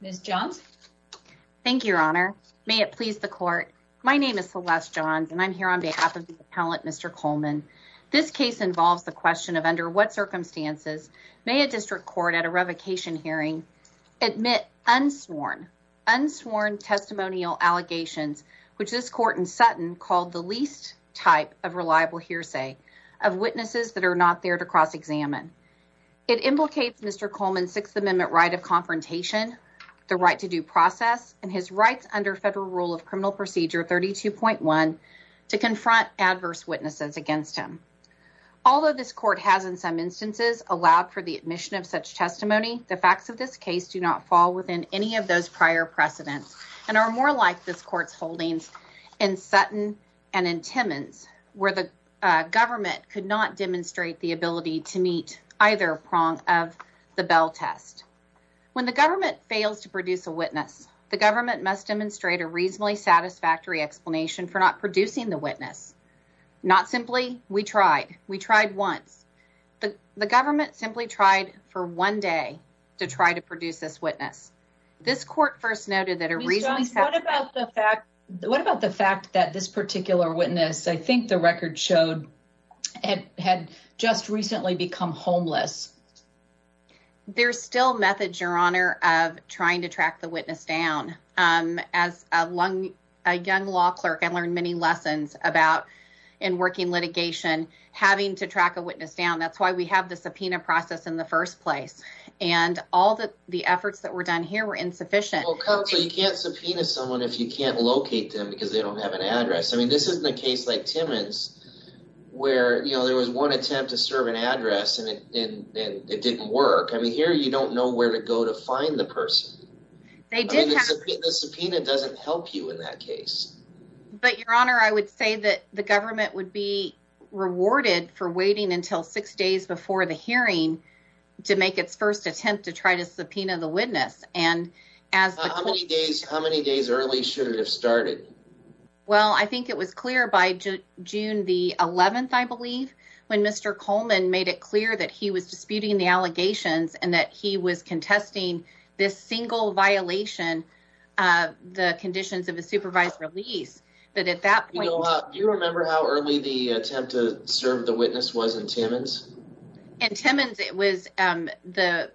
Ms. Johns. Thank you, Your Honor. May it please the court. My name is Celeste Johns and I'm here on behalf of the appellate Mr. Coleman. This case involves the question of under what sworn testimonial allegations which this court in Sutton called the least type of reliable hearsay of witnesses that are not there to cross-examine. It implicates Mr. Coleman's Sixth Amendment right of confrontation, the right to due process, and his rights under federal rule of criminal procedure 32.1 to confront adverse witnesses against him. Although this court has in some instances allowed for the admission of such testimony, the facts of this case do not fall within any of those prior precedents and are more like this court's holdings in Sutton and in Timmins, where the government could not demonstrate the ability to meet either prong of the bell test. When the government fails to produce a witness, the government must demonstrate a reasonably satisfactory explanation for not producing the witness. Not simply, we tried. We tried once. The government simply tried for one day to try to produce this witness. This court first noted that a reasonably... Ms. Johns, what about the fact that this particular witness, I think the record showed, had just recently become homeless? There's still methods, Your Honor, of trying to track the witness down. As a young law clerk, I learned many lessons about, in working litigation, having to track a witness down. That's why we have the subpoena process in the first place. And all the efforts that were done here were insufficient. Well, counsel, you can't subpoena someone if you can't locate them because they don't have an address. I mean, this isn't a case like Timmins, where, you know, there was one attempt to serve an address and it didn't work. I mean, here you don't know where to go to find the person. The subpoena doesn't help you in that case. But, Your Honor, I would say that the government would be rewarded for waiting until six days before the hearing to make its first attempt to try to subpoena the witness. And as the court... How many days early should it have started? Well, I think it was clear by June the 11th, I believe, when Mr. Coleman made it clear that he was disputing the Do you remember how early the attempt to serve the witness was in Timmins? In Timmins, the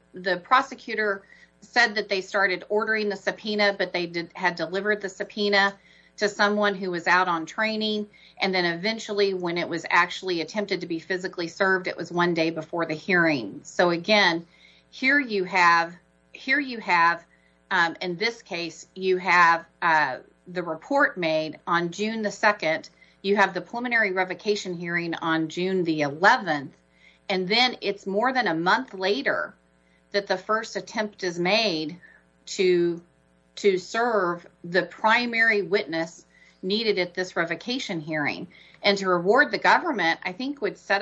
prosecutor said that they started ordering the subpoena, but they had delivered the subpoena to someone who was out on training. And then eventually, when it was actually attempted to be physically served, it was one day before the hearing. So again, here you have, in this case, you have the report made on June the 2nd. You have the preliminary revocation hearing on June the 11th. And then it's more than a month later that the first attempt is made to serve the primary witness needed at this revocation hearing. And to reward the government, I think, would set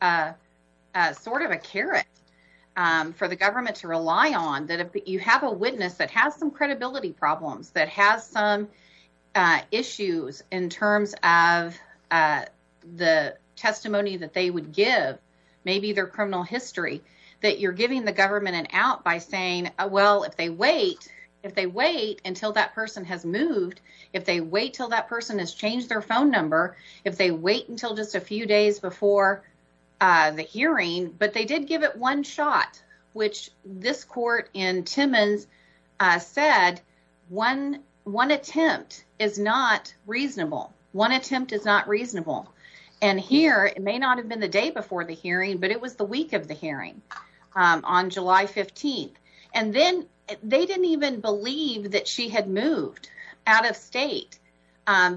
up sort of a carrot for the government to rely on, that if you have a witness that has some credibility problems, that has some issues in terms of the testimony that they would give, maybe their criminal history, that you're giving the government an out by saying, well, if they wait, if they wait until that person has moved, if they wait till that person has changed their phone number, if they wait until just a few days before the hearing, but they did give it one shot, which this court in Timmins said, one attempt is not reasonable. One attempt is not reasonable. And here, it may not have been the day before the hearing, but it was the week of the hearing on July 15th. And then they didn't even believe that she had moved out of state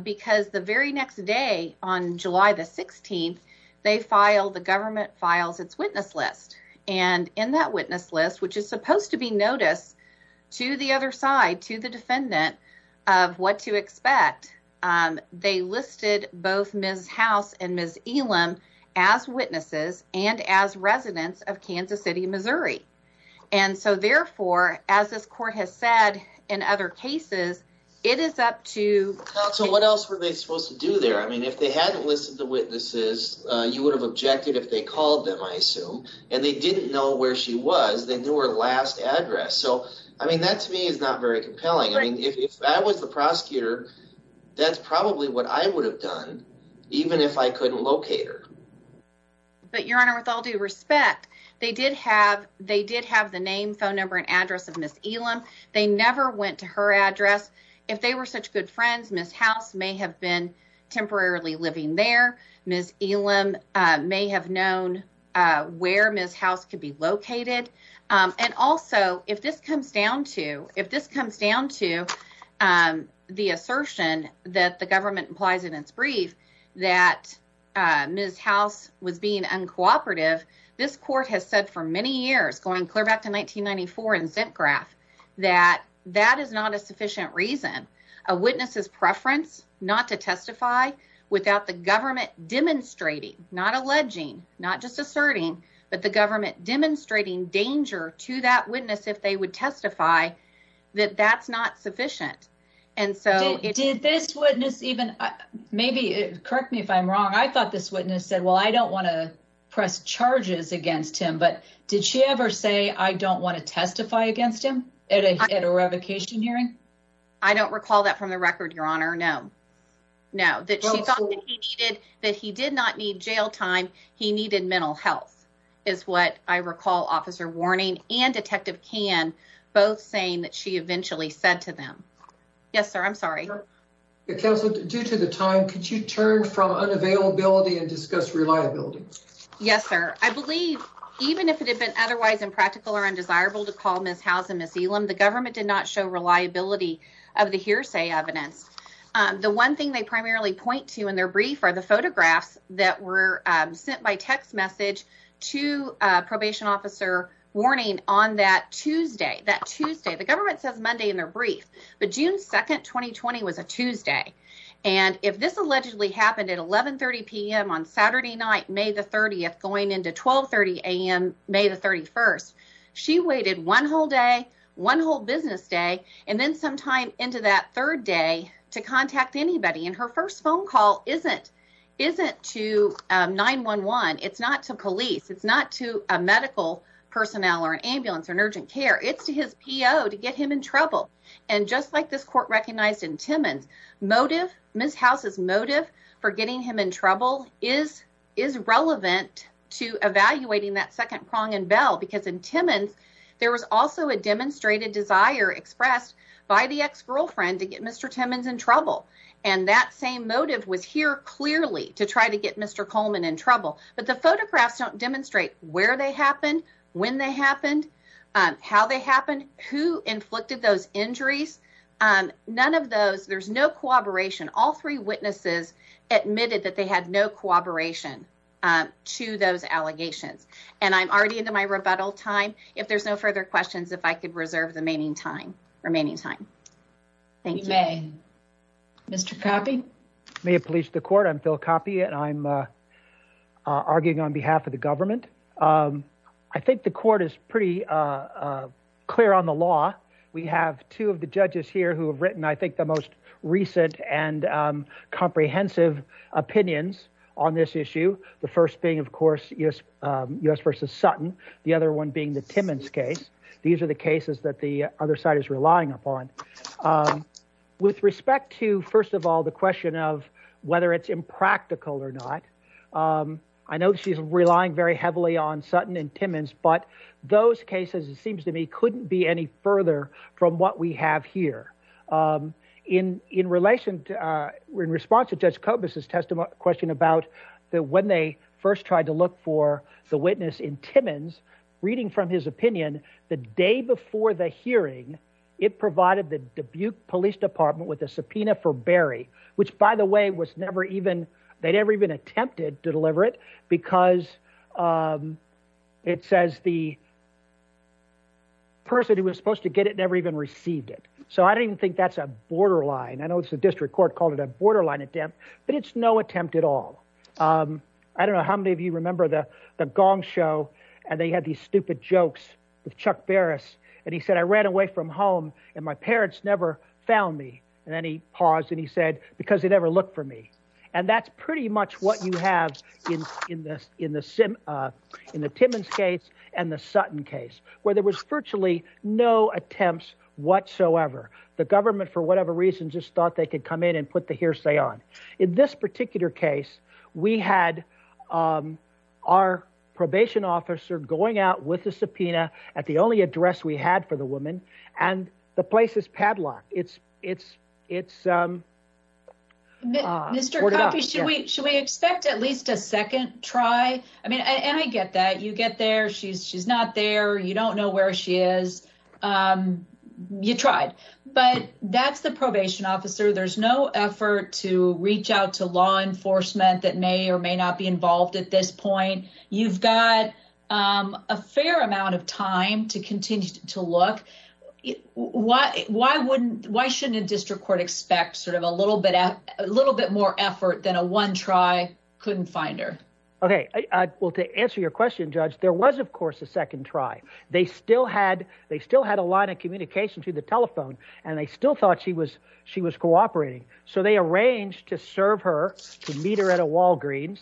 because the very next day on July the 16th, they filed, the government files its witness list. And in that witness list, which is supposed to be noticed to the other side, to the defendant of what to expect, they listed both Ms. House and Ms. Elam as witnesses and as residents of Kansas City, Missouri. And so therefore, as this court has said in other cases, it is up to... So what else were they supposed to do there? I mean, if they hadn't listed the witnesses, you would have objected if they called them, I assume, and they didn't know where she was, they knew her last address. So, I mean, that to me is not very compelling. I mean, if I was the prosecutor, that's probably what I would have done, even if I couldn't locate her. But, Your Honor, with all due respect, they did have the name, phone number, and address of Ms. Elam. They never went to her address. If they were such good friends, Ms. House may have been temporarily living there. Ms. Elam may have known where Ms. House could be located. And also, if this comes down to the assertion that the government implies in its brief that Ms. House was being uncooperative, this court has said for many years, going clear back to 1994 in ZempGraph, that that is not a sufficient reason. A witness's preference not to testify without the government demonstrating, not alleging, not just asserting, but the government demonstrating danger to that witness if they would testify, that that's not sufficient. Did this witness even, maybe correct me if I'm wrong, I thought this witness said, well, I don't want to press charges against him. But did she ever say, I don't want to testify against him at a revocation hearing? I don't recall that from the record, Your Honor, no. No, that she thought that he did not need jail time, he needed mental health, is what I recall Officer Warning and Detective Kahn both saying that she eventually said to them. Yes, sir, I'm sorry. Counsel, due to the time, could you turn from unavailability and discuss reliability? Yes, sir. I believe, even if it had been otherwise impractical or undesirable to call Ms. House and Ms. Elam, the government did not show reliability of the hearsay evidence. The one thing they primarily point to in their brief are the photographs that were sent by text message to Probation Officer Warning on that Tuesday. That Tuesday, the government says Monday in their brief, but June 2nd, 2020 was a Tuesday. And if this allegedly happened at 11.30 p.m. on Saturday night, May the 30th, going into 12.30 a.m. May the 31st, she waited one whole day, one whole business day, and then some time into that third day to contact anybody. And her first phone call isn't to 911. It's not to police. It's not to a medical personnel or an ambulance or an urgent care. It's to his P.O. to get him in trouble. And just like this court recognized in Timmons, motive, Ms. House's motive for getting him in trouble is relevant to evaluating that second prong and bell. Because in Timmons, there was also a demonstrated desire expressed by the ex-girlfriend to get Mr. Timmons in trouble. And that same motive was here clearly to try to get Mr. Coleman in trouble. But the photographs don't demonstrate where they happened, when they happened, how they happened, who inflicted those injuries. None of those, there's no cooperation. All three witnesses admitted that they had no cooperation to those allegations. And I'm already into my rebuttal time. If there's no further questions, if I could reserve the remaining time. Thank you. Mr. Coppe? May it please the court, I'm Phil Coppe and I'm arguing on behalf of the government. I think the court is pretty clear on the law. We have two of the judges here who have written, I think, the most recent and comprehensive opinions on this issue. The first being, of course, U.S. v. Sutton. The other one being the Timmons case. These are the cases that the other side is relying upon. With respect to, first of all, the question of whether it's impractical or not, I know she's relying very heavily on Sutton and Timmons, but those cases, it seems to me, couldn't be any further from what we have here. In relation, in response to Judge Kobus' question about when they first tried to look for the witness in Timmons, reading from his opinion, the day before the hearing, it provided the Dubuque Police Department with a subpoena for Berry, which, by the way, they never even attempted to deliver it, because it says the person who was supposed to get it never even received it. So I don't even think that's a borderline. I know the district court called it a borderline attempt, but it's no attempt at all. I don't know how many of you remember the gong show, and they had these stupid jokes with Chuck Berris, and he said, I ran away from home and my parents never found me. And then he paused and he said, because they never looked for me. And that's pretty much what you have in the Timmons case and the Sutton case, where there was virtually no attempts whatsoever. The government, for whatever reason, just thought they could come in and put the hearsay on. In this particular case, we had our probation officer going out with a subpoena at the only address we had for the woman, and the place is padlocked. It's corded up. Mr. Coffey, should we expect at least a second try? I mean, and I get that. You get there, she's not there, you don't know where she is. You tried. But that's the probation officer. There's no effort to reach out to law enforcement that may or may not be involved at this point. You've got a fair amount of time to continue to look. Why shouldn't a district court expect sort of a little bit more effort than a one try couldn't find her? Well, to answer your question, Judge, there was, of course, a second try. They still had a line of communication through the telephone, and they still thought she was cooperating. So they arranged to serve her, to meet her at a Walgreens,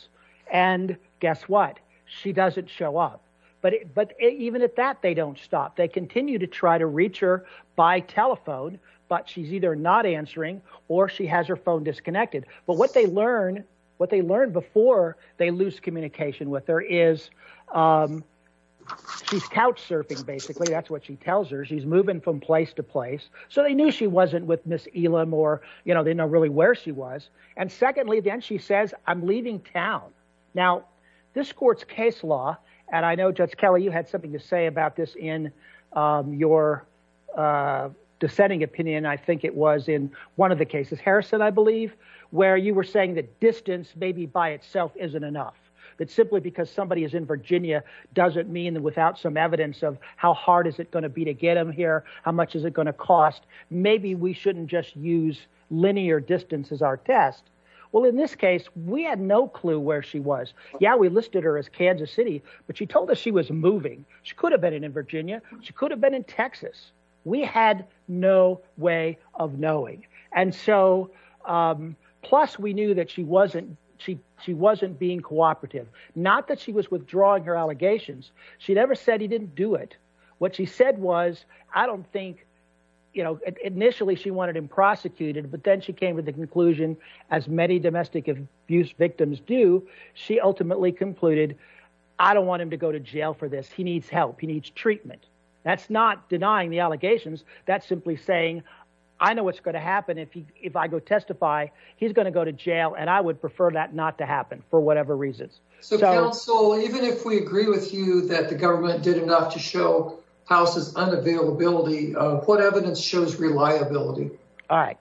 and guess what? She doesn't show up. But even at that, they don't stop. They continue to try to reach her by telephone, but she's either not answering or she has her phone disconnected. But what they learn before they lose communication with her is she's couch surfing, basically. That's what she tells her. She's moving from place to place. So they knew she wasn't with Miss Elam, or they didn't know really where she was. And secondly, then she says, I'm leaving town. Now, this court's case law, and I know, Judge Kelly, you had something to say about this in your dissenting opinion, I think it was, in one of the cases, Harrison, I believe, where you were saying that distance maybe by itself isn't enough. That simply because somebody is in Virginia doesn't mean that without some evidence of how hard is it going to be to get them here, how much is it going to cost, maybe we shouldn't just use linear distance as our test. Well, in this case, we had no clue where she was. Yeah, we listed her as Kansas City, but she told us she was moving. She could have been in Virginia. She could have been in Texas. We had no way of knowing. And so, plus, we knew that she wasn't being cooperative. Not that she was withdrawing her allegations. She never said he didn't do it. What she said was, I don't think, you know, initially she wanted him prosecuted, but then she came to the conclusion, as many domestic abuse victims do, she ultimately concluded, I don't want him to go to jail for this. He needs help. He needs treatment. That's not denying the allegations. That's simply saying, I know what's going to happen if I go testify. He's going to go to jail, and I would prefer that not to happen for whatever reasons. So, counsel, even if we agree with you that the government did enough to show House's unavailability, what evidence shows reliability? All right.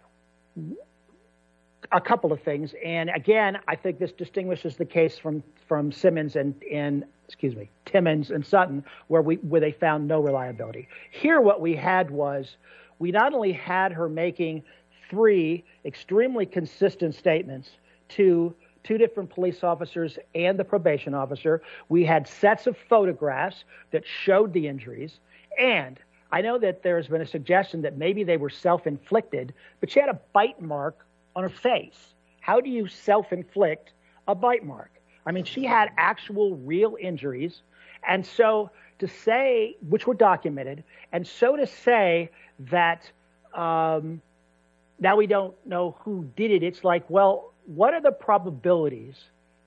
A couple of things. And, again, I think this distinguishes the case from Simmons and, excuse me, Timmons and Sutton, where they found no reliability. Here, what we had was, we not only had her making three extremely consistent statements to two different police officers and the probation officer, we had sets of photographs that showed the injuries, and I know that there's been a suggestion that maybe they were self-inflicted, but she had a bite mark on her face. How do you self-inflict a bite mark? I mean, she had actual, real injuries, which were documented, and so to say that now we don't know who did it, it's like, well, what are the probabilities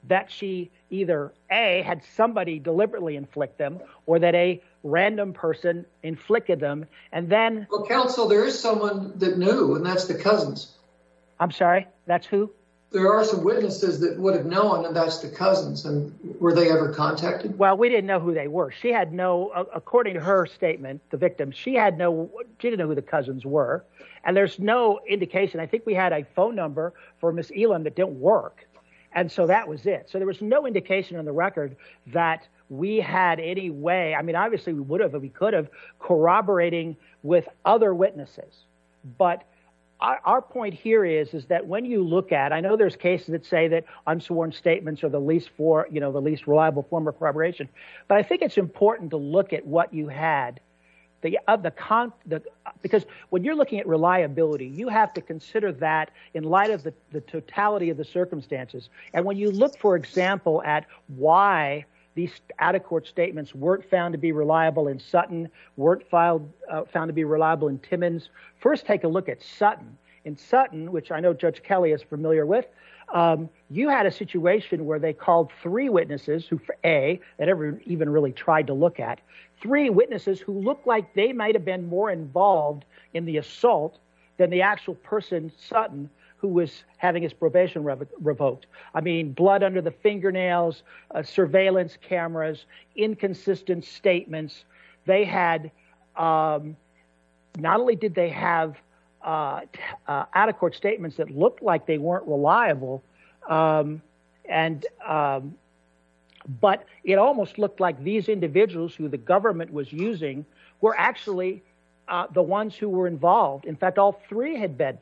that she either, A, had somebody deliberately inflict them, or that a random person inflicted them, and then... Well, counsel, there is someone that knew, and that's the cousins. I'm sorry? That's who? There are some witnesses that would have known, and that's the cousins. And were they ever contacted? Well, we didn't know who they were. According to her statement, the victim, she didn't know who the cousins were, and there's no indication. I think we had a phone number for Ms. Elam that didn't work, and so that was it. So there was no indication on the record that we had any way, I mean, obviously we would have or we could have, corroborating with other witnesses, but our point here is that when you look at, I know there's cases that say that unsworn statements are the least reliable form of corroboration, but I think it's important to look at what you had. Because when you're looking at reliability, you have to consider that in light of the totality of the circumstances. And when you look, for example, at why these out-of-court statements weren't found to be reliable in Sutton, weren't found to be reliable in Timmons, first take a look at Sutton. In Sutton, which I know Judge Kelly is familiar with, you had a situation where they called three witnesses, A, that everyone even really tried to look at, B, three witnesses who looked like they might have been more involved in the assault than the actual person, Sutton, who was having his probation revoked. I mean, blood under the fingernails, surveillance cameras, inconsistent statements. They had, not only did they have out-of-court statements that looked like they weren't reliable, but it almost looked like these individuals that the government was using were actually the ones who were involved. In fact, all three had been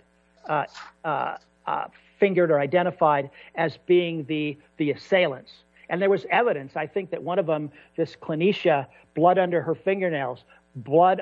fingered or identified as being the assailants. And there was evidence, I think, that one of them, this clinician, blood under her fingernails, blood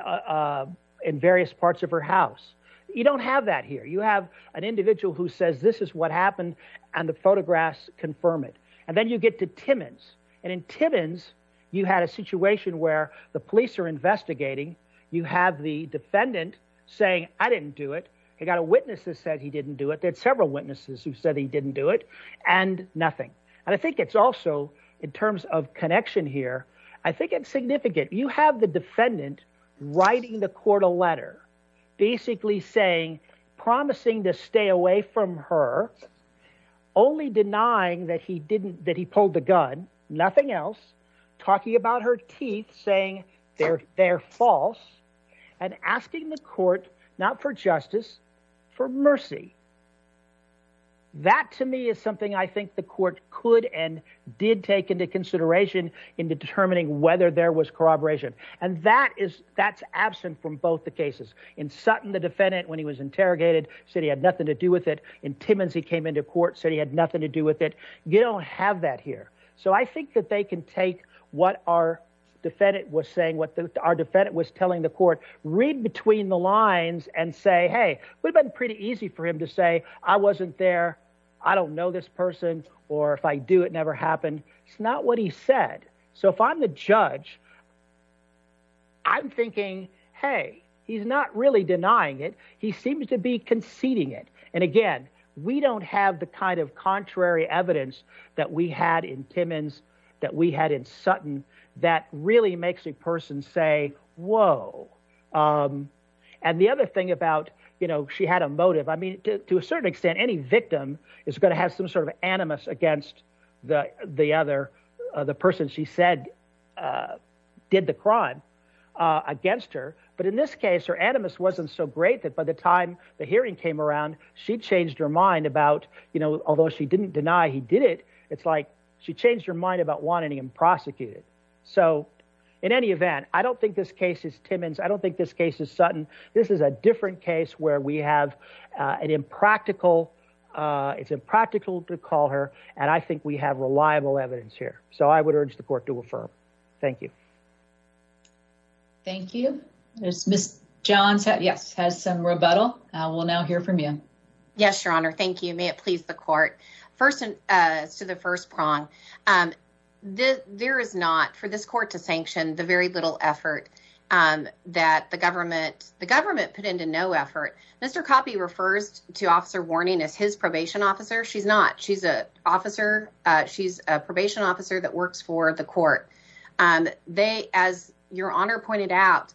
in various parts of her house. You don't have that here. You have an individual who says, this is what happened, and the photographs confirm it. And then you get to Timmons. And in Timmons, you had a situation where the police are investigating. You have the defendant saying, I didn't do it. He got a witness that said he didn't do it. There are several witnesses who said he didn't do it. And nothing. And I think it's also, in terms of connection here, I think it's significant. You have the defendant writing the court a letter, basically saying, promising to stay away from her, only denying that he pulled the gun, nothing else, talking about her teeth, saying they're false, and asking the court, not for justice, for mercy. That, to me, is something I think the court could and did take into consideration in determining whether there was corroboration. And that's absent from both the cases. In Sutton, the defendant, when he was interrogated, said he had nothing to do with it. In Timmons, he came into court, said he had nothing to do with it. I think that they can take what our defendant was saying, what our defendant was telling the court, read between the lines and say, hey, it would have been pretty easy for him to say, I wasn't there, I don't know this person, or if I do, it never happened. It's not what he said. So if I'm the judge, I'm thinking, hey, he's not really denying it. He seems to be conceding it. And again, we don't have the kind of contrary evidence that we had in Timmons, that we had in Sutton, that really makes a person say, whoa. And the other thing about, you know, she had a motive. I mean, to a certain extent, any victim is going to have some sort of animus against the other, the person she said did the crime, against her. But in this case, her animus wasn't so great she changed her mind about, you know, even though she didn't deny he did it, it's like she changed her mind about wanting him prosecuted. So in any event, I don't think this case is Timmons. I don't think this case is Sutton. This is a different case where we have an impractical, it's impractical to call her. And I think we have reliable evidence here. So I would urge the court to affirm. Thank you. Thank you. Ms. Johns has some rebuttal. We'll now hear from you. Yes, Your Honor. Thank you. First to the first prong. There is not, for this court to sanction, the very little effort that the government, the government put into no effort. Mr. Coppi refers to Officer Warning as his probation officer. She's not. She's a probation officer that works for the court. They, as Your Honor pointed out,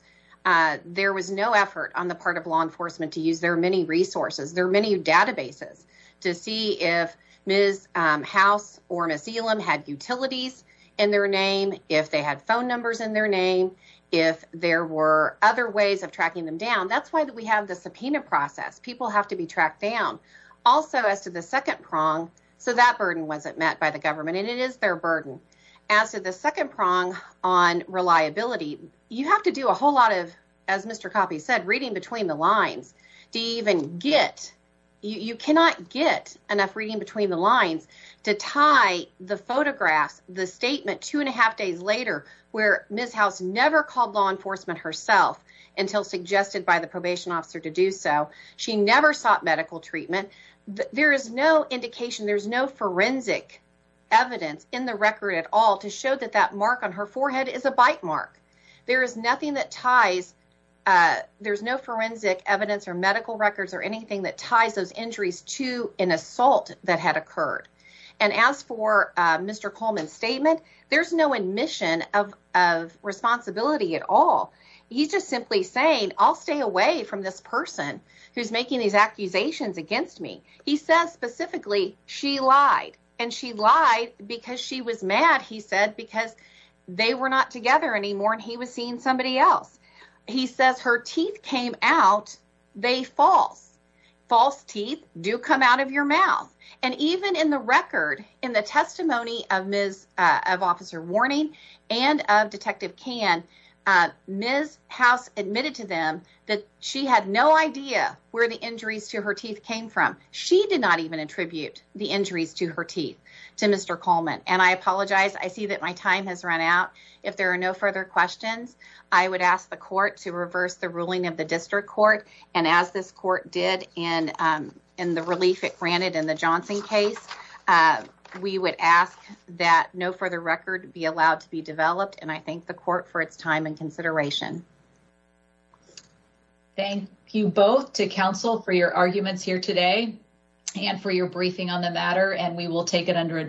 there was no effort on the part of law enforcement to use their many resources, their many databases, to see if Ms. House or Ms. Elam had utilities in their name, if they had phone numbers in their name, if there were other ways of tracking them down. That's why we have the subpoena process. People have to be tracked down. Also, as to the second prong, so that burden wasn't met by the government, and it is their burden. As to the second prong on reliability, you have to do a whole lot of, as Mr. Coppi said, reading between the lines to even get, you cannot get enough reading between the lines to tie the photographs, the statement, two and a half days later, where Ms. House never called law enforcement herself until suggested by the probation officer to do so. She never sought medical treatment. There is no indication, there's no forensic evidence in the record at all to show that that mark on her forehead is a bite mark. There is nothing that ties, there's no forensic evidence or medical records or anything that ties those injuries to an assault that had occurred. And as for Mr. Coleman's statement, there's no admission of responsibility at all. He's just simply saying, I'll stay away from this person who's making these accusations against me. He says specifically, she lied. And she lied because she was mad, he said, because they were not together anymore and he was seeing somebody else. He says her teeth came out, they false. False teeth do come out of your mouth. And even in the record, in the testimony of Officer Warning and of Detective Kan, Ms. House admitted to them that she had no idea where the injuries to her teeth came from. She did not even attribute the injuries to her teeth to Mr. Coleman. And I apologize, I see that my time has run out. If there are no further questions, I would ask the court to reverse the ruling of the district court. As it did in the relief it granted in the Johnson case, we would ask that no further record be allowed to be developed. And I thank the court for its time and consideration. Thank you both to counsel for your arguments here today and for your briefing on the matter. And we will take it under advisement.